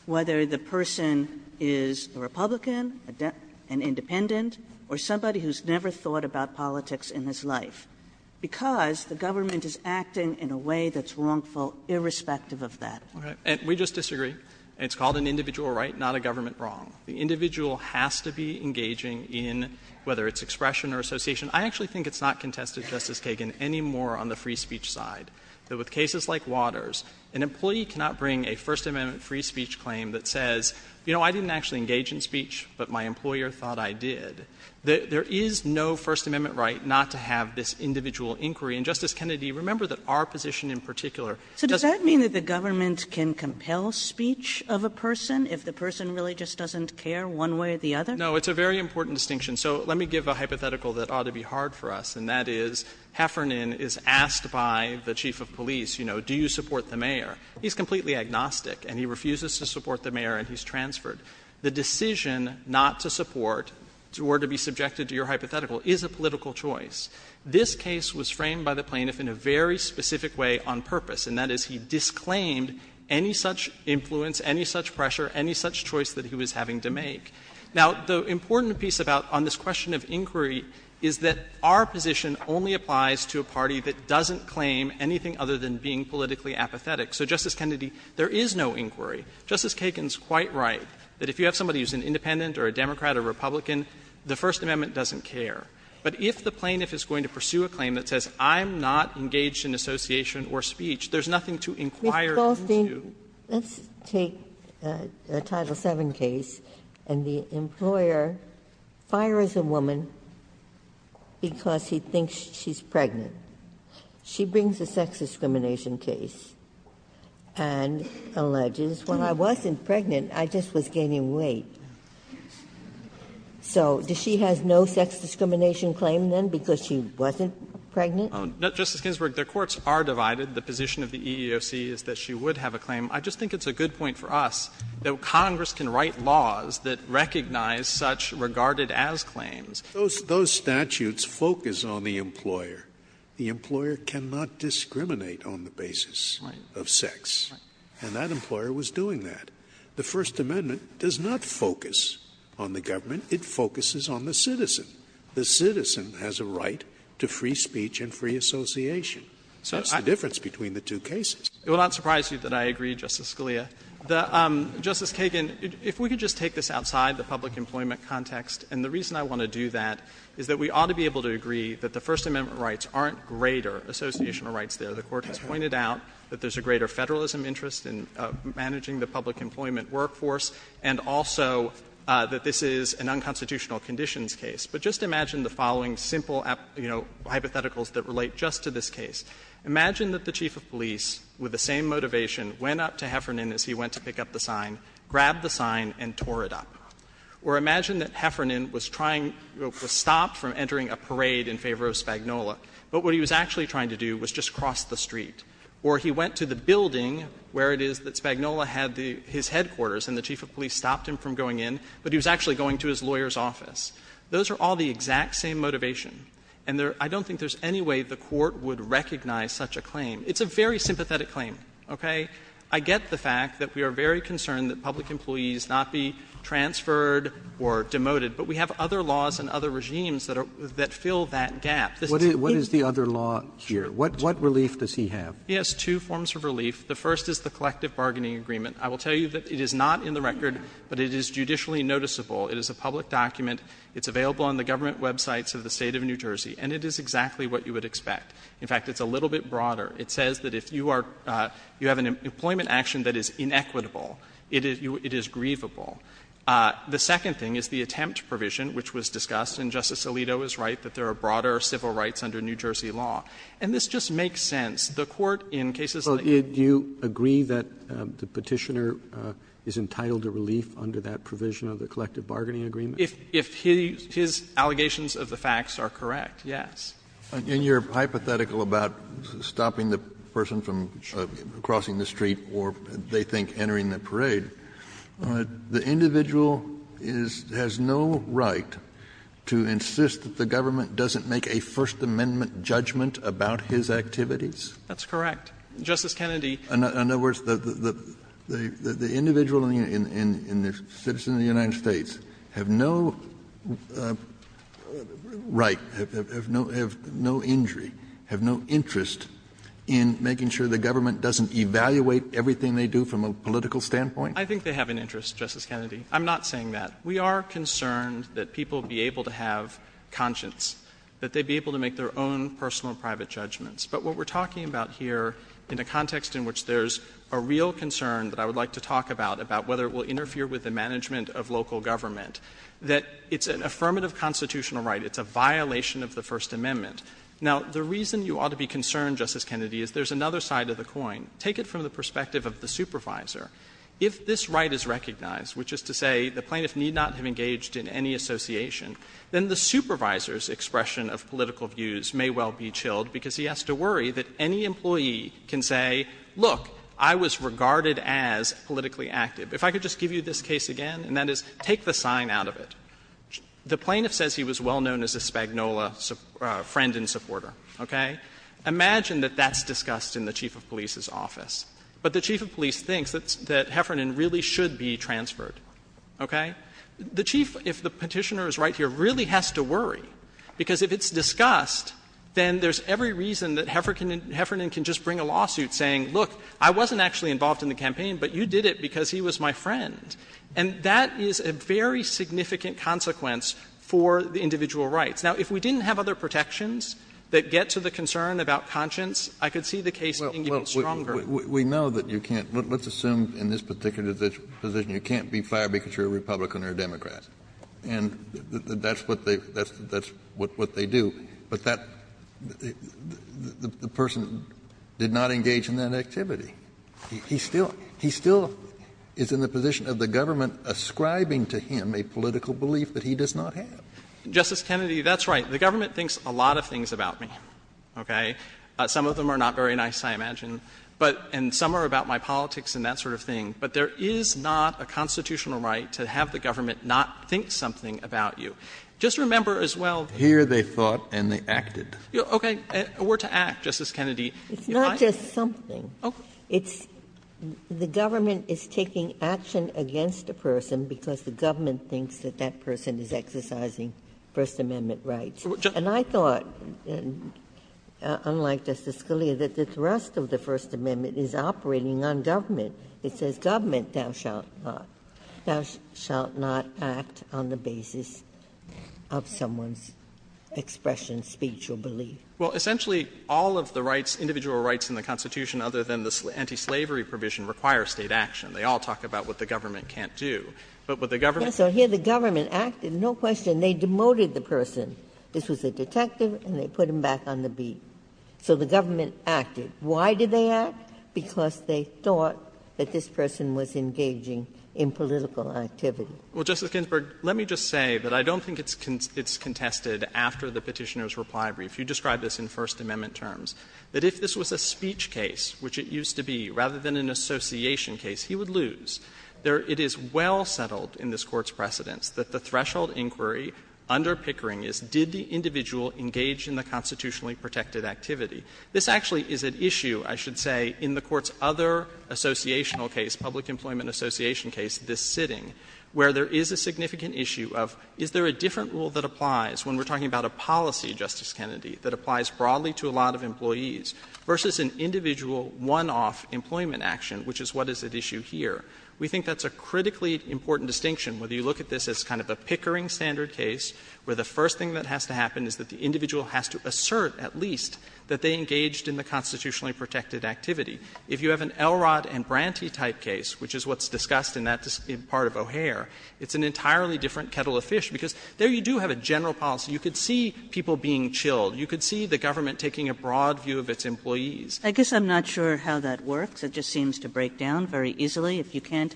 whether the person is a Republican, an independent, or somebody who's never thought about politics in his life, because the government is acting in a way that's wrongful irrespective of that. And we just disagree. It's called an individual right, not a government wrong. The individual has to be engaging in, whether it's expression or association. I actually think it's not contested, Justice Kagan, any more on the free speech side, that with cases like Waters, an employee cannot bring a First Amendment free speech claim that says, you know, I didn't actually engage in speech, but my employer thought I did. There is no First Amendment right not to have this individual inquiry. And, Justice Kennedy, remember that our position in particular doesn't mean that the government can compel speech of a person if the person really just doesn't care one way or the other? No, it's a very important distinction. So let me give a hypothetical that ought to be hard for us, and that is Heffernan is asked by the chief of police, you know, do you support the mayor? He's completely agnostic, and he refuses to support the mayor, and he's transferred. The decision not to support or to be subjected to your hypothetical is a political choice. This case was framed by the plaintiff in a very specific way on purpose, and that is he disclaimed any such influence, any such pressure, any such choice that he was having to make. Now, the important piece about this question of inquiry is that our position only applies to a party that doesn't claim anything other than being politically apathetic. So, Justice Kennedy, there is no inquiry. Justice Kagan is quite right that if you have somebody who is an independent or a Democrat or a Republican, the First Amendment doesn't care. But if the plaintiff is going to pursue a claim that says I'm not engaged in association or speech, there's nothing to inquire into. Ginsburg. Let's take a Title VII case, and the employer fires a woman because he thinks she's pregnant. She brings a sex discrimination case and alleges, when I wasn't pregnant, I just was gaining weight. So does she have no sex discrimination claim then because she wasn't pregnant? Justice Ginsburg, their courts are divided. The position of the EEOC is that she would have a claim. I just think it's a good point for us that Congress can write laws that recognize such regarded-as claims. Scalia. Those statutes focus on the employer. The employer cannot discriminate on the basis of sex. And that employer was doing that. The First Amendment does not focus on the government. It focuses on the citizen. The citizen has a right to free speech and free association. So that's the difference between the two cases. It will not surprise you that I agree, Justice Scalia. Justice Kagan, if we could just take this outside the public employment context, and the reason I want to do that is that we ought to be able to agree that the First Amendment rights aren't greater associational rights there. The Court has pointed out that there's a greater Federalism interest in managing the public employment workforce, and also that this is an unconstitutional conditions case. But just imagine the following simple, you know, hypotheticals that relate just to this case. Imagine that the chief of police, with the same motivation, went up to Heffernan as he went to pick up the sign, grabbed the sign, and tore it up. Or imagine that Heffernan was trying to stop from entering a parade in favor of Spagnola, but what he was actually trying to do was just cross the street. Or he went to the building where it is that Spagnola had his headquarters, and the chief of police stopped him from going in, but he was actually going to his lawyer's office. Those are all the exact same motivation, and I don't think there's any way the Court would recognize such a claim. It's a very sympathetic claim, okay? I get the fact that we are very concerned that public employees not be transferred or demoted, but we have other laws and other regimes that fill that gap. Roberts. What is the other law here? What relief does he have? He has two forms of relief. The first is the collective bargaining agreement. I will tell you that it is not in the record, but it is judicially noticeable. It is a public document. It's available on the government websites of the State of New Jersey, and it is exactly what you would expect. In fact, it's a little bit broader. It says that if you are — you have an employment action that is inequitable, it is — it is grievable. The second thing is the attempt provision, which was discussed, and Justice Alito is right, that there are broader civil rights under New Jersey law, and this just makes sense. The Court, in cases like this— Roberts. Well, do you agree that the Petitioner is entitled to relief under that provision of the collective bargaining agreement? If his allegations of the facts are correct, yes. And you are hypothetical about stopping the person from crossing the street or, they think, entering the parade. The individual is — has no right to insist that the government doesn't make a First Amendment judgment about his activities? That's correct. Justice Kennedy— In other words, the individual and the citizen of the United States have no right, have no injury, have no interest in making sure the government doesn't evaluate everything they do from a political standpoint? I think they have an interest, Justice Kennedy. I'm not saying that. We are concerned that people be able to have conscience, that they be able to make their own personal private judgments. But what we are talking about here in a context in which there is a real concern that I would like to talk about, about whether it will interfere with the management of local government, that it's an affirmative constitutional right. It's a violation of the First Amendment. Now, the reason you ought to be concerned, Justice Kennedy, is there is another side of the coin. Take it from the perspective of the supervisor. If this right is recognized, which is to say the plaintiff need not have engaged in any association, then the supervisor's expression of political views may well be to worry that any employee can say, look, I was regarded as politically active. If I could just give you this case again, and that is, take the sign out of it. The plaintiff says he was well known as a Spagnola friend and supporter, okay? Imagine that that's discussed in the chief of police's office. But the chief of police thinks that Heffernan really should be transferred. Okay? The chief, if the Petitioner is right here, really has to worry, because if it's discussed, then there's every reason that Heffernan can just bring a lawsuit saying, look, I wasn't actually involved in the campaign, but you did it because he was my friend. And that is a very significant consequence for the individual rights. Now, if we didn't have other protections that get to the concern about conscience, I could see the case being even stronger. Kennedy, we know that you can't be, let's assume in this particular position you can't be fired because you're a Republican or a Democrat. And that's what they do. But that the person did not engage in that activity. He still is in the position of the government ascribing to him a political belief that he does not have. Justice Kennedy, that's right. The government thinks a lot of things about me, okay? Some of them are not very nice, I imagine. But and some are about my politics and that sort of thing. But there is not a constitutional right to have the government not think something about you. Just remember as well. Here they thought and they acted. Okay. A word to act, Justice Kennedy. It's not just something. It's the government is taking action against a person because the government thinks that that person is exercising First Amendment rights. And I thought, unlike Justice Scalia, that the rest of the First Amendment is operating on government. It says government thou shalt not. Thou shalt not act on the basis of someone's expression, speech, or belief. Well, essentially all of the rights, individual rights in the Constitution other than the anti-slavery provision require State action. They all talk about what the government can't do. But what the government can't do. Yes, so here the government acted, no question. They demoted the person. This was a detective and they put him back on the beat. So the government acted. Why did they act? Because they thought that this person was engaging in political activity. Well, Justice Ginsburg, let me just say that I don't think it's contested after the Petitioner's reply brief. You described this in First Amendment terms, that if this was a speech case, which it used to be, rather than an association case, he would lose. It is well settled in this Court's precedence that the threshold inquiry under Pickering is did the individual engage in the constitutionally protected activity. This actually is an issue, I should say, in the Court's other associational case, public employment association case, this sitting, where there is a significant issue of is there a different rule that applies when we're talking about a policy, Justice Kennedy, that applies broadly to a lot of employees, versus an individual one-off employment action, which is what is at issue here. We think that's a critically important distinction, whether you look at this as kind of a Pickering standard case, where the first thing that has to happen is that the individual has to be engaged in the constitutionally protected activity. If you have an Elrod and Branty type case, which is what's discussed in that part of O'Hare, it's an entirely different kettle of fish, because there you do have a general policy. You could see people being chilled. You could see the government taking a broad view of its employees. Kagan. Kagan. Kagan. Kagan. Kagan. Kagan. Kagan. Kagan. Kagan. Kagan. Kagan. Kagan. Kagan.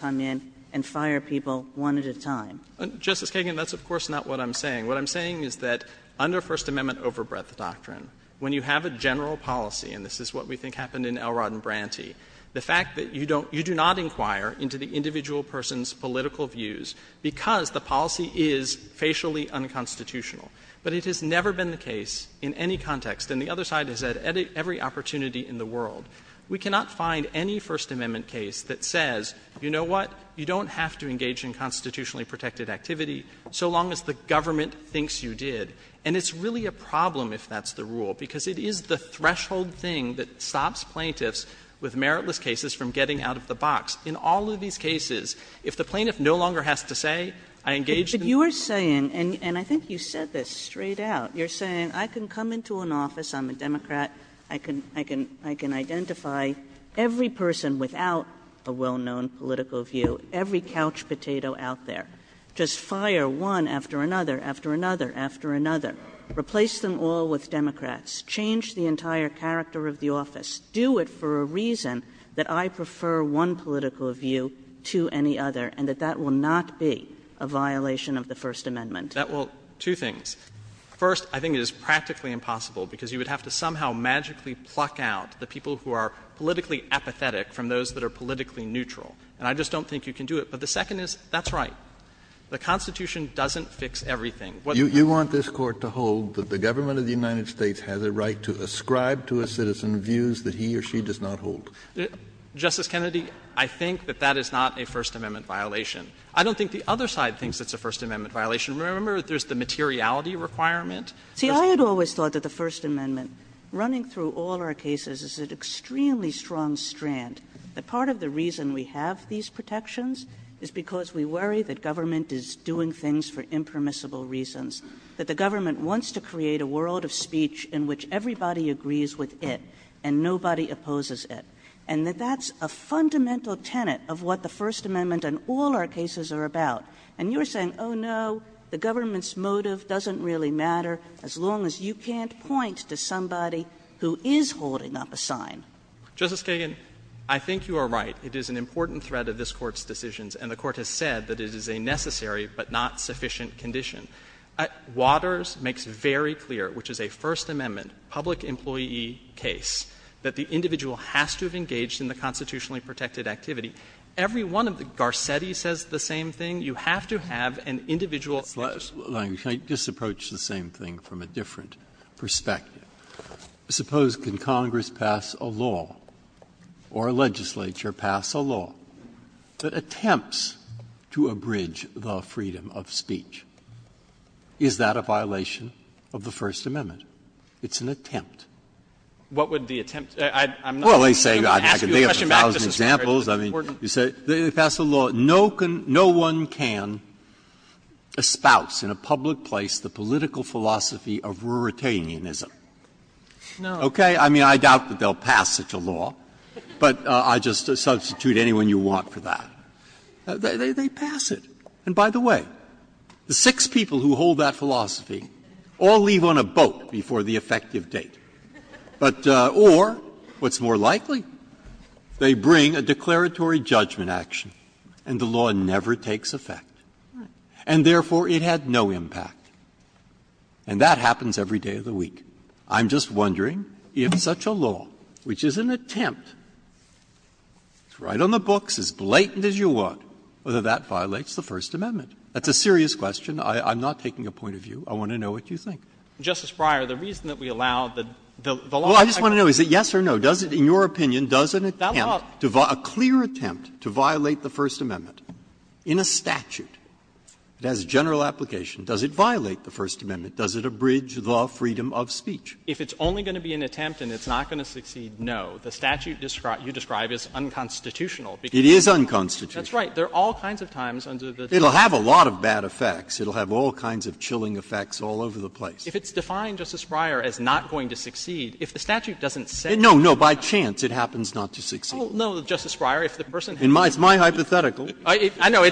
Kagan. Kagan. Justice Kagan, that's of course not what I'm saying. What I'm saying is that under First Amendment overbreadth doctrine, when you have a general policy, and this is what we think happened in Elrod and Branty, the fact that you do not inquire into the individual person's political views because the policy is facially unconstitutional, but it has never been the case in any context and the other side has had every opportunity in the world, we cannot find any First Amendment rule that says, you know what, you don't have to engage in constitutionally protected activity so long as the government thinks you did. And it's really a problem if that's the rule, because it is the threshold thing that stops plaintiffs with meritless cases from getting out of the box. In all of these cases, if the plaintiff no longer has to say, I engaged in the rule of law. Kagan. Kagan. Kagan. Kagan. Kagan. Kagan. Kagan. Kagan. Kagan. Kagan. Kagan. Kagan. Kagan. Kagan. Kagan. Kagan. And I just don't think you can do it. But the second is, that's right. The Constitution doesn't fix everything. Kennedy. You want this Court to hold that the government of the United States has a right to ascribe to a citizen views that he or she does not hold? Justice Kennedy, I think that that is not a First Amendment violation. I don't think the other side thinks it's a First Amendment violation. Remember, there's the materiality requirement? Kagan. Kagan. See, I had always thought that the First Amendment, running through all our cases, is an extremely strong strand, that part of the reason we have these protections is because we worry that government is doing things for impermissible reasons, that the government wants to create a world of speech in which everybody agrees with it, and nobody opposes it, and that that's a fundamental tenet of what the First Amendment and all our cases are about. And you're saying, oh, no, the government's motive doesn't really matter as long as you can't point to somebody who is holding up a sign. Justice Kagan, I think you are right. It is an important thread of this Court's decisions, and the Court has said that it is a necessary but not sufficient condition. Waters makes very clear, which is a First Amendment public employee case, that the individual has to have engaged in the constitutionally protected activity. Every one of the — Garcetti says the same thing. You have to have an individual. Breyer, can I just approach the same thing from a different perspective? Suppose, can Congress pass a law or a legislature pass a law that attempts to abridge the freedom of speech? Is that a violation of the First Amendment? It's an attempt. What would the attempt be? I'm not going to ask you a question back. Well, they say they have a thousand examples. I mean, you say they pass a law. But no one can espouse in a public place the political philosophy of Ruritanianism. Okay? I mean, I doubt that they will pass such a law, but I just substitute anyone you want for that. They pass it. And by the way, the six people who hold that philosophy all leave on a boat before the effective date. But or, what's more likely, they bring a declaratory judgment action and the law never takes effect. And therefore, it had no impact. And that happens every day of the week. I'm just wondering if such a law, which is an attempt, is right on the books, as blatant as you want, whether that violates the First Amendment. That's a serious question. I'm not taking a point of view. I want to know what you think. Justice Breyer, the reason that we allow the law to take effect. Well, I just want to know, is it yes or no? Does it, in your opinion, does an attempt, a clear attempt to violate the First Amendment in a statute that has a general application, does it violate the First Amendment? Does it abridge the freedom of speech? If it's only going to be an attempt and it's not going to succeed, no. The statute you describe is unconstitutional. It is unconstitutional. That's right. There are all kinds of times under the law. It will have a lot of bad effects. It will have all kinds of chilling effects all over the place. If it's defined, Justice Breyer, as not going to succeed, if the statute doesn't say that. No, no. By chance it happens not to succeed. Well, no, Justice Breyer, if the person has to succeed. It's my hypothetical. I know.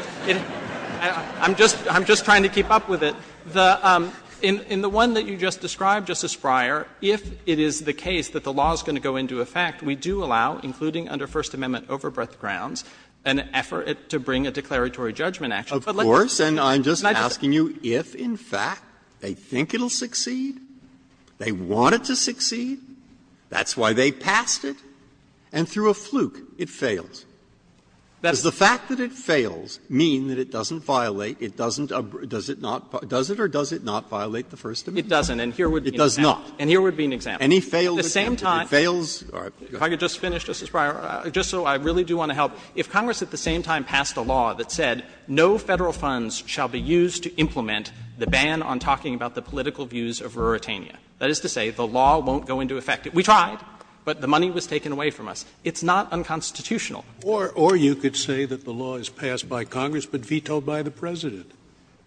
I'm just trying to keep up with it. In the one that you just described, Justice Breyer, if it is the case that the law is going to go into effect, we do allow, including under First Amendment overbread grounds, an effort to bring a declaratory judgment action. Of course. And I'm just asking you if, in fact, they think it will succeed, they want it to succeed, that's why they passed it, and through a fluke it fails. Does the fact that it fails mean that it doesn't violate, it doesn't, does it not violate, does it or does it not violate the First Amendment? It doesn't, and here would be an example. It does not. And here would be an example. Any failed example, if it fails, all right, go ahead. If I could just finish, Justice Breyer, just so I really do want to help. If Congress at the same time passed a law that said no Federal funds shall be used to implement the ban on talking about the political views of Ruritania, that is to say the law won't go into effect. We tried, but the money was taken away from us. It's not unconstitutional. Scalia. Or you could say that the law is passed by Congress but vetoed by the President.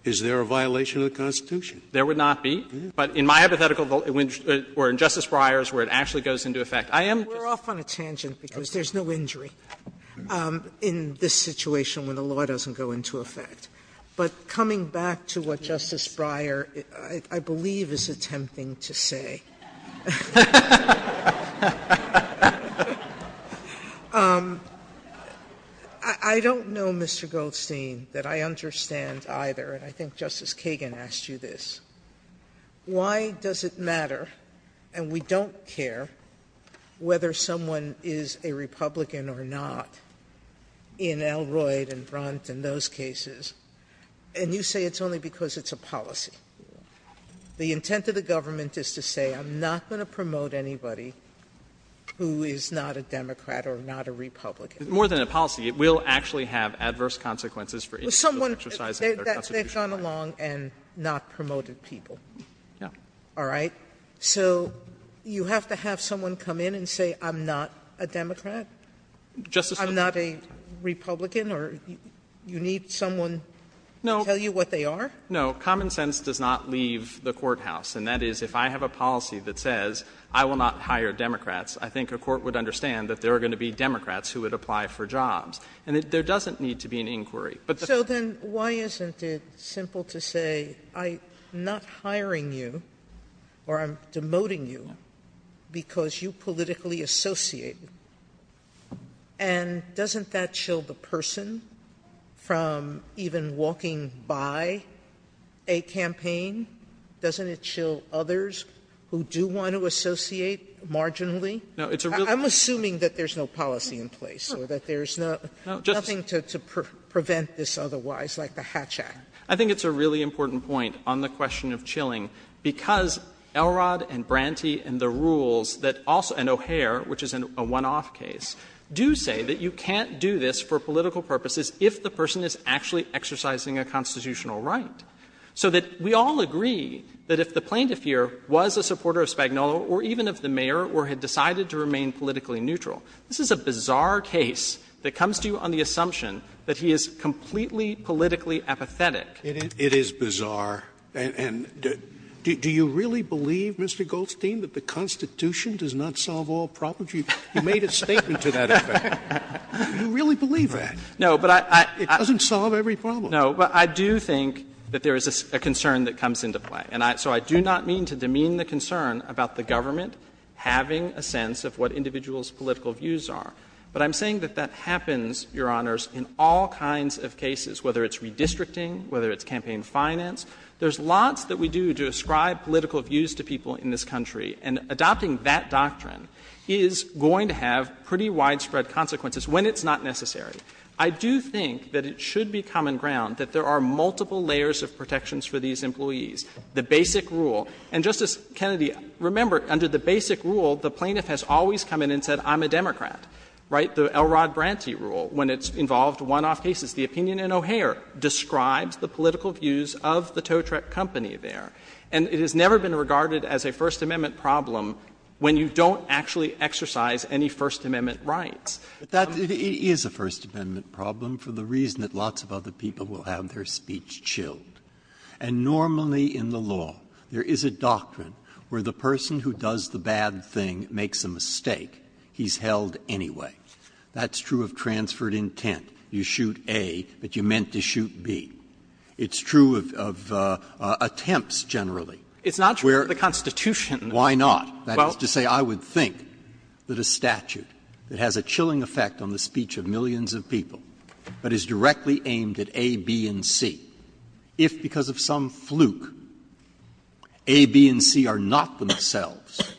Is there a violation of the Constitution? There would not be. But in my hypothetical or in Justice Breyer's where it actually goes into effect, I am just saying. there's no injury in this situation when the law doesn't go into effect. But coming back to what Justice Breyer I believe is attempting to say. I don't know, Mr. Goldstein, that I understand either. And I think Justice Kagan asked you this. Why does it matter, and we don't care, whether someone is a Republican or not in Elroyd and Brunt and those cases, and you say it's only because it's a policy? The intent of the government is to say I'm not going to promote anybody who is not a Democrat or not a Republican. Goldstein, More than a policy, it will actually have adverse consequences for individuals exercising their constitutional right. We're talking about people who are young and not promoted people. All right? So you have to have someone come in and say I'm not a Democrat? I'm not a Republican? Do you need someone to tell you what they are? No. Common sense does not leave the courthouse. And that is, if I have a policy that says I will not hire Democrats, I think a court would understand that there are going to be Democrats who would apply for jobs. And there doesn't need to be an inquiry. So then, why isn't it simple to say I'm not hiring you, or I'm demoting you, because you politically associate? And doesn't that chill the person from even walking by a campaign? Doesn't it chill others who do want to associate marginally? I'm assuming that there's no policy in place, or there's nothing to prevent this otherwise, like the Hatch Act. I think it's a really important point on the question of chilling, because Elrod and Branty and the rules that also, and O'Hare, which is a one-off case, do say that you can't do this for political purposes if the person is actually exercising a constitutional right. So that we all agree that if the plaintiff here was a supporter of Spagnuolo or even of the mayor or had decided to remain politically neutral, this is a bizarre case that comes to you on the assumption that he is completely politically apathetic. Scalia It is bizarre. And do you really believe, Mr. Goldstein, that the Constitution does not solve all problems? You made a statement to that effect. You really believe that? It doesn't solve every problem. Goldstein No, but I do think that there is a concern that comes into play. And so I do not mean to demean the concern about the government having a sense of what individuals' political views are. But I'm saying that that happens, Your Honors, in all kinds of cases, whether it's redistricting, whether it's campaign finance. There's lots that we do to ascribe political views to people in this country, and adopting that doctrine is going to have pretty widespread consequences when it's not necessary. I do think that it should be common ground that there are multiple layers of protections for these employees. The basic rule — and, Justice Kennedy, remember, under the basic rule, the plaintiff has always come in and said, I'm a Democrat. Right? The Elrod Branty rule, when it's involved one-off cases, the opinion in O'Hare describes the political views of the Totrec company there. And it has never been regarded as a First Amendment problem when you don't actually exercise any First Amendment rights. Breyer, it is a First Amendment problem for the reason that lots of other people will have their speech chilled. And normally in the law, there is a doctrine where the person who does the bad thing that makes a mistake, he's held anyway. That's true of transferred intent. You shoot A, but you meant to shoot B. It's true of attempts generally. It's not true of the Constitution. Why not? That is to say, I would think that a statute that has a chilling effect on the speech of millions of people, but is directly aimed at A, B, and C, if because of some fluke A, B, and C are not themselves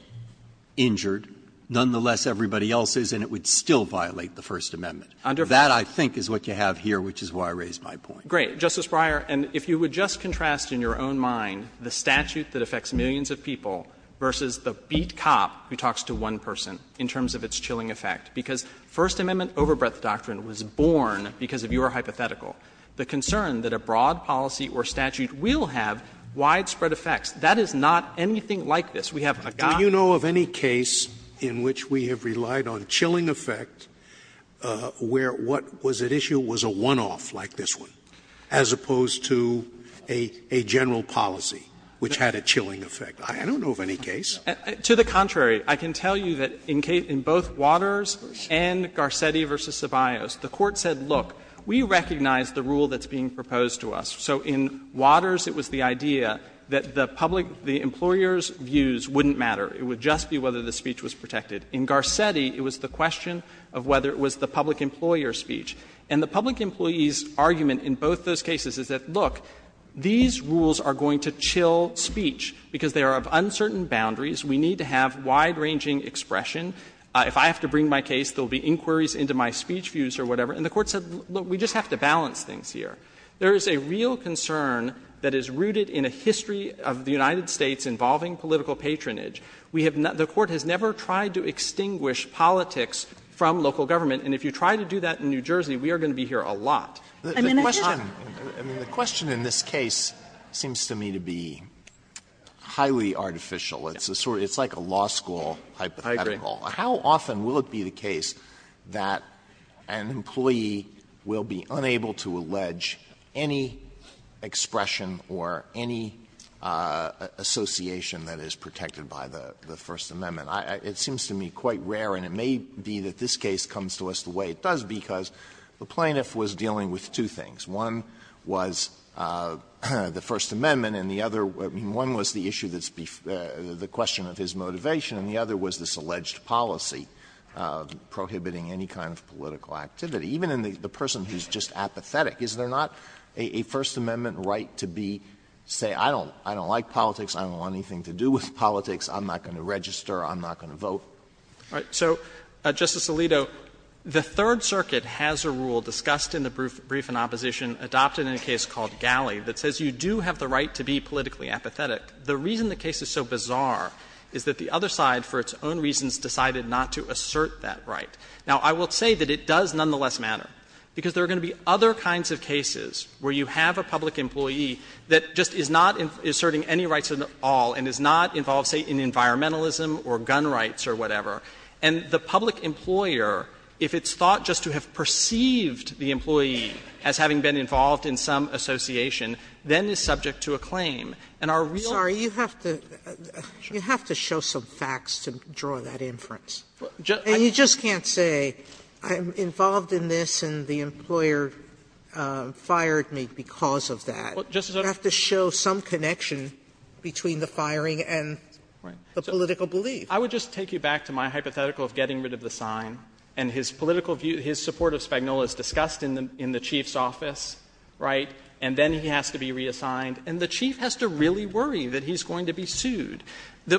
injured, nonetheless everybody else is, and it would still violate the First Amendment. That, I think, is what you have here, which is why I raised my point. Great. Justice Breyer, and if you would just contrast in your own mind the statute that affects millions of people versus the beat cop who talks to one person in terms of its chilling effect, because First Amendment overbreath doctrine was born because of your hypothetical, the concern that a broad policy or statute will have widespread effects. That is not anything like this. We have a doctrine. Scalia Do you know of any case in which we have relied on chilling effect where what was at issue was a one-off like this one, as opposed to a general policy which had a chilling effect? I don't know of any case. To the contrary. I can tell you that in both Waters and Garcetti v. Ceballos, the Court said, look, we recognize the rule that's being proposed to us. So in Waters it was the idea that the public, the employer's views wouldn't matter. It would just be whether the speech was protected. In Garcetti, it was the question of whether it was the public employer's speech. And the public employee's argument in both those cases is that, look, these rules are going to chill speech because they are of uncertain boundaries. We need to have wide-ranging expression. If I have to bring my case, there will be inquiries into my speech views or whatever. And the Court said, look, we just have to balance things here. There is a real concern that is rooted in a history of the United States involving political patronage. We have not — the Court has never tried to extinguish politics from local government. And if you try to do that in New Jersey, we are going to be here a lot. The question in this case seems to me to be highly artificial. It's a sort of — it's like a law school hypothetical. How often will it be the case that an employee will be unable to allege any expression or any association that is protected by the First Amendment? It seems to me quite rare, and it may be that this case comes to us the way it does, because the plaintiff was dealing with two things. One was the First Amendment, and the other — I mean, one was the issue that's the question of his motivation, and the other was this alleged policy prohibiting any kind of political activity, even in the person who is just apathetic. Is there not a First Amendment right to be — say, I don't like politics, I don't want anything to do with politics, I'm not going to register, I'm not going to vote? All right. So, Justice Alito, the Third Circuit has a rule discussed in the brief in opposition adopted in a case called Galley that says you do have the right to be politically apathetic. The reason the case is so bizarre is that the other side, for its own reasons, decided not to assert that right. Now, I will say that it does nonetheless matter, because there are going to be other kinds of cases where you have a public employee that just is not asserting any rights at all and is not involved, say, in environmentalism or gun rights or whatever. And the public employer, if it's thought just to have perceived the employee as having been involved in some association, then is subject to a claim. And our real question is whether that is true. Sotomayor, you have to show some facts to draw that inference. And you just can't say, I'm involved in this and the employer fired me because of that. You have to show some connection between the firing and the political belief. I would just take you back to my hypothetical of getting rid of the sign and his political view, his support of Spagnola is discussed in the Chief's office, right, and then he has to be reassigned, and the Chief has to really worry that he's going to be sued.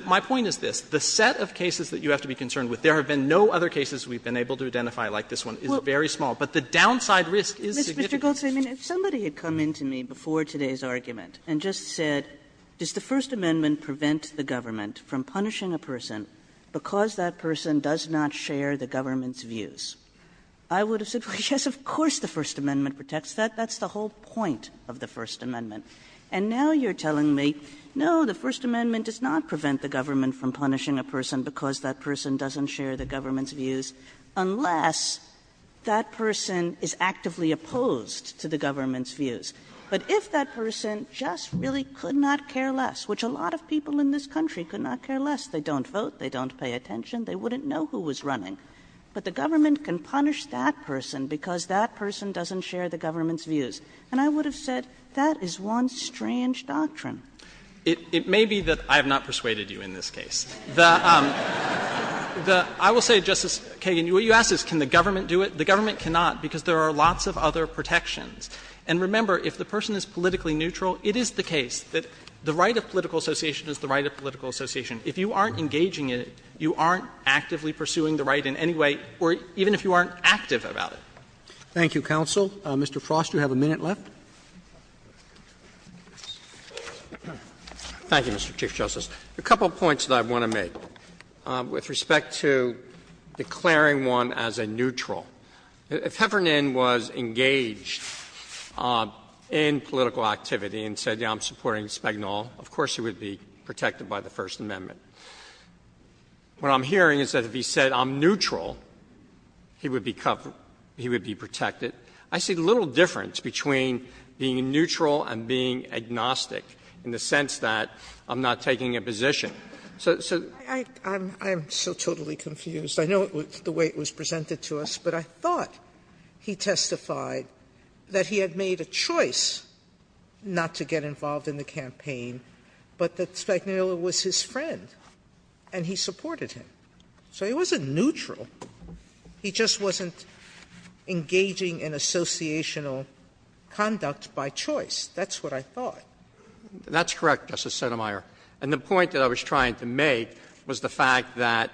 My point is this. The set of cases that you have to be concerned with, there have been no other cases we've been able to identify like this one. It's very small. But the downside risk is significant. Kagan. Kagan. If somebody had come into me before today's argument and just said, does the First Amendment prevent the government from punishing a person because that person does not share the government's views, I would have said, yes, of course the First Amendment protects that. That's the whole point of the First Amendment. And now you're telling me, no, the First Amendment does not prevent the government from punishing a person because that person doesn't share the government's views, unless that person is actively opposed to the government's views. But if that person just really could not care less, which a lot of people in this country could not care less, they don't vote, they don't pay attention, they wouldn't know who was running, but the government can punish that person because that person doesn't share the government's views. And I would have said, that is one strange doctrine. It may be that I have not persuaded you in this case. The — I will say, Justice Kagan, what you ask is can the government do it? The government cannot, because there are lots of other protections. And remember, if the person is politically neutral, it is the case that the right of political association is the right of political association. If you aren't engaging in it, you aren't actively pursuing the right in any way, or even if you aren't active about it. Roberts. Thank you, counsel. Mr. Frost, you have a minute left. Thank you, Mr. Chief Justice. A couple of points that I want to make with respect to declaring one as a neutral. If Heffernan was engaged in political activity and said, yes, I'm supporting Spagnol, of course he would be protected by the First Amendment. What I'm hearing is that if he said, I'm neutral, he would be covered, he would be protected. I see little difference between being neutral and being agnostic in the sense that I'm not taking a position. So the question is, what is the difference between being neutral and being agnostic? Sotomayor. I'm so totally confused. I know the way it was presented to us, but I thought he testified that he had made a choice not to get involved in the campaign, but that Spagnola was his friend and he supported him. So he wasn't neutral. He just wasn't engaging in associational conduct by choice. That's what I thought. That's correct, Justice Sotomayor. And the point that I was trying to make was the fact that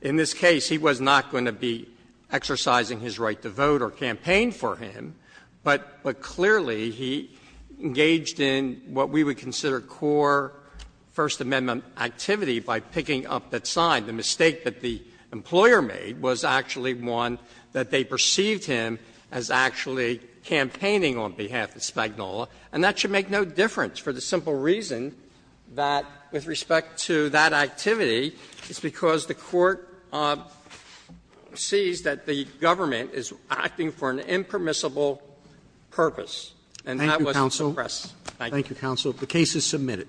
in this case he was not going to be exercising his right to vote or campaign for him, but clearly he engaged in what we would consider core First Amendment activity by picking up that sign. The mistake that the employer made was actually one that they perceived him as actually campaigning on behalf of Spagnola. And that should make no difference for the simple reason that with respect to that activity, it's because the Court sees that the government is acting for an impermissible purpose. And that wasn't suppressed. Thank you, Counsel. The case is submitted.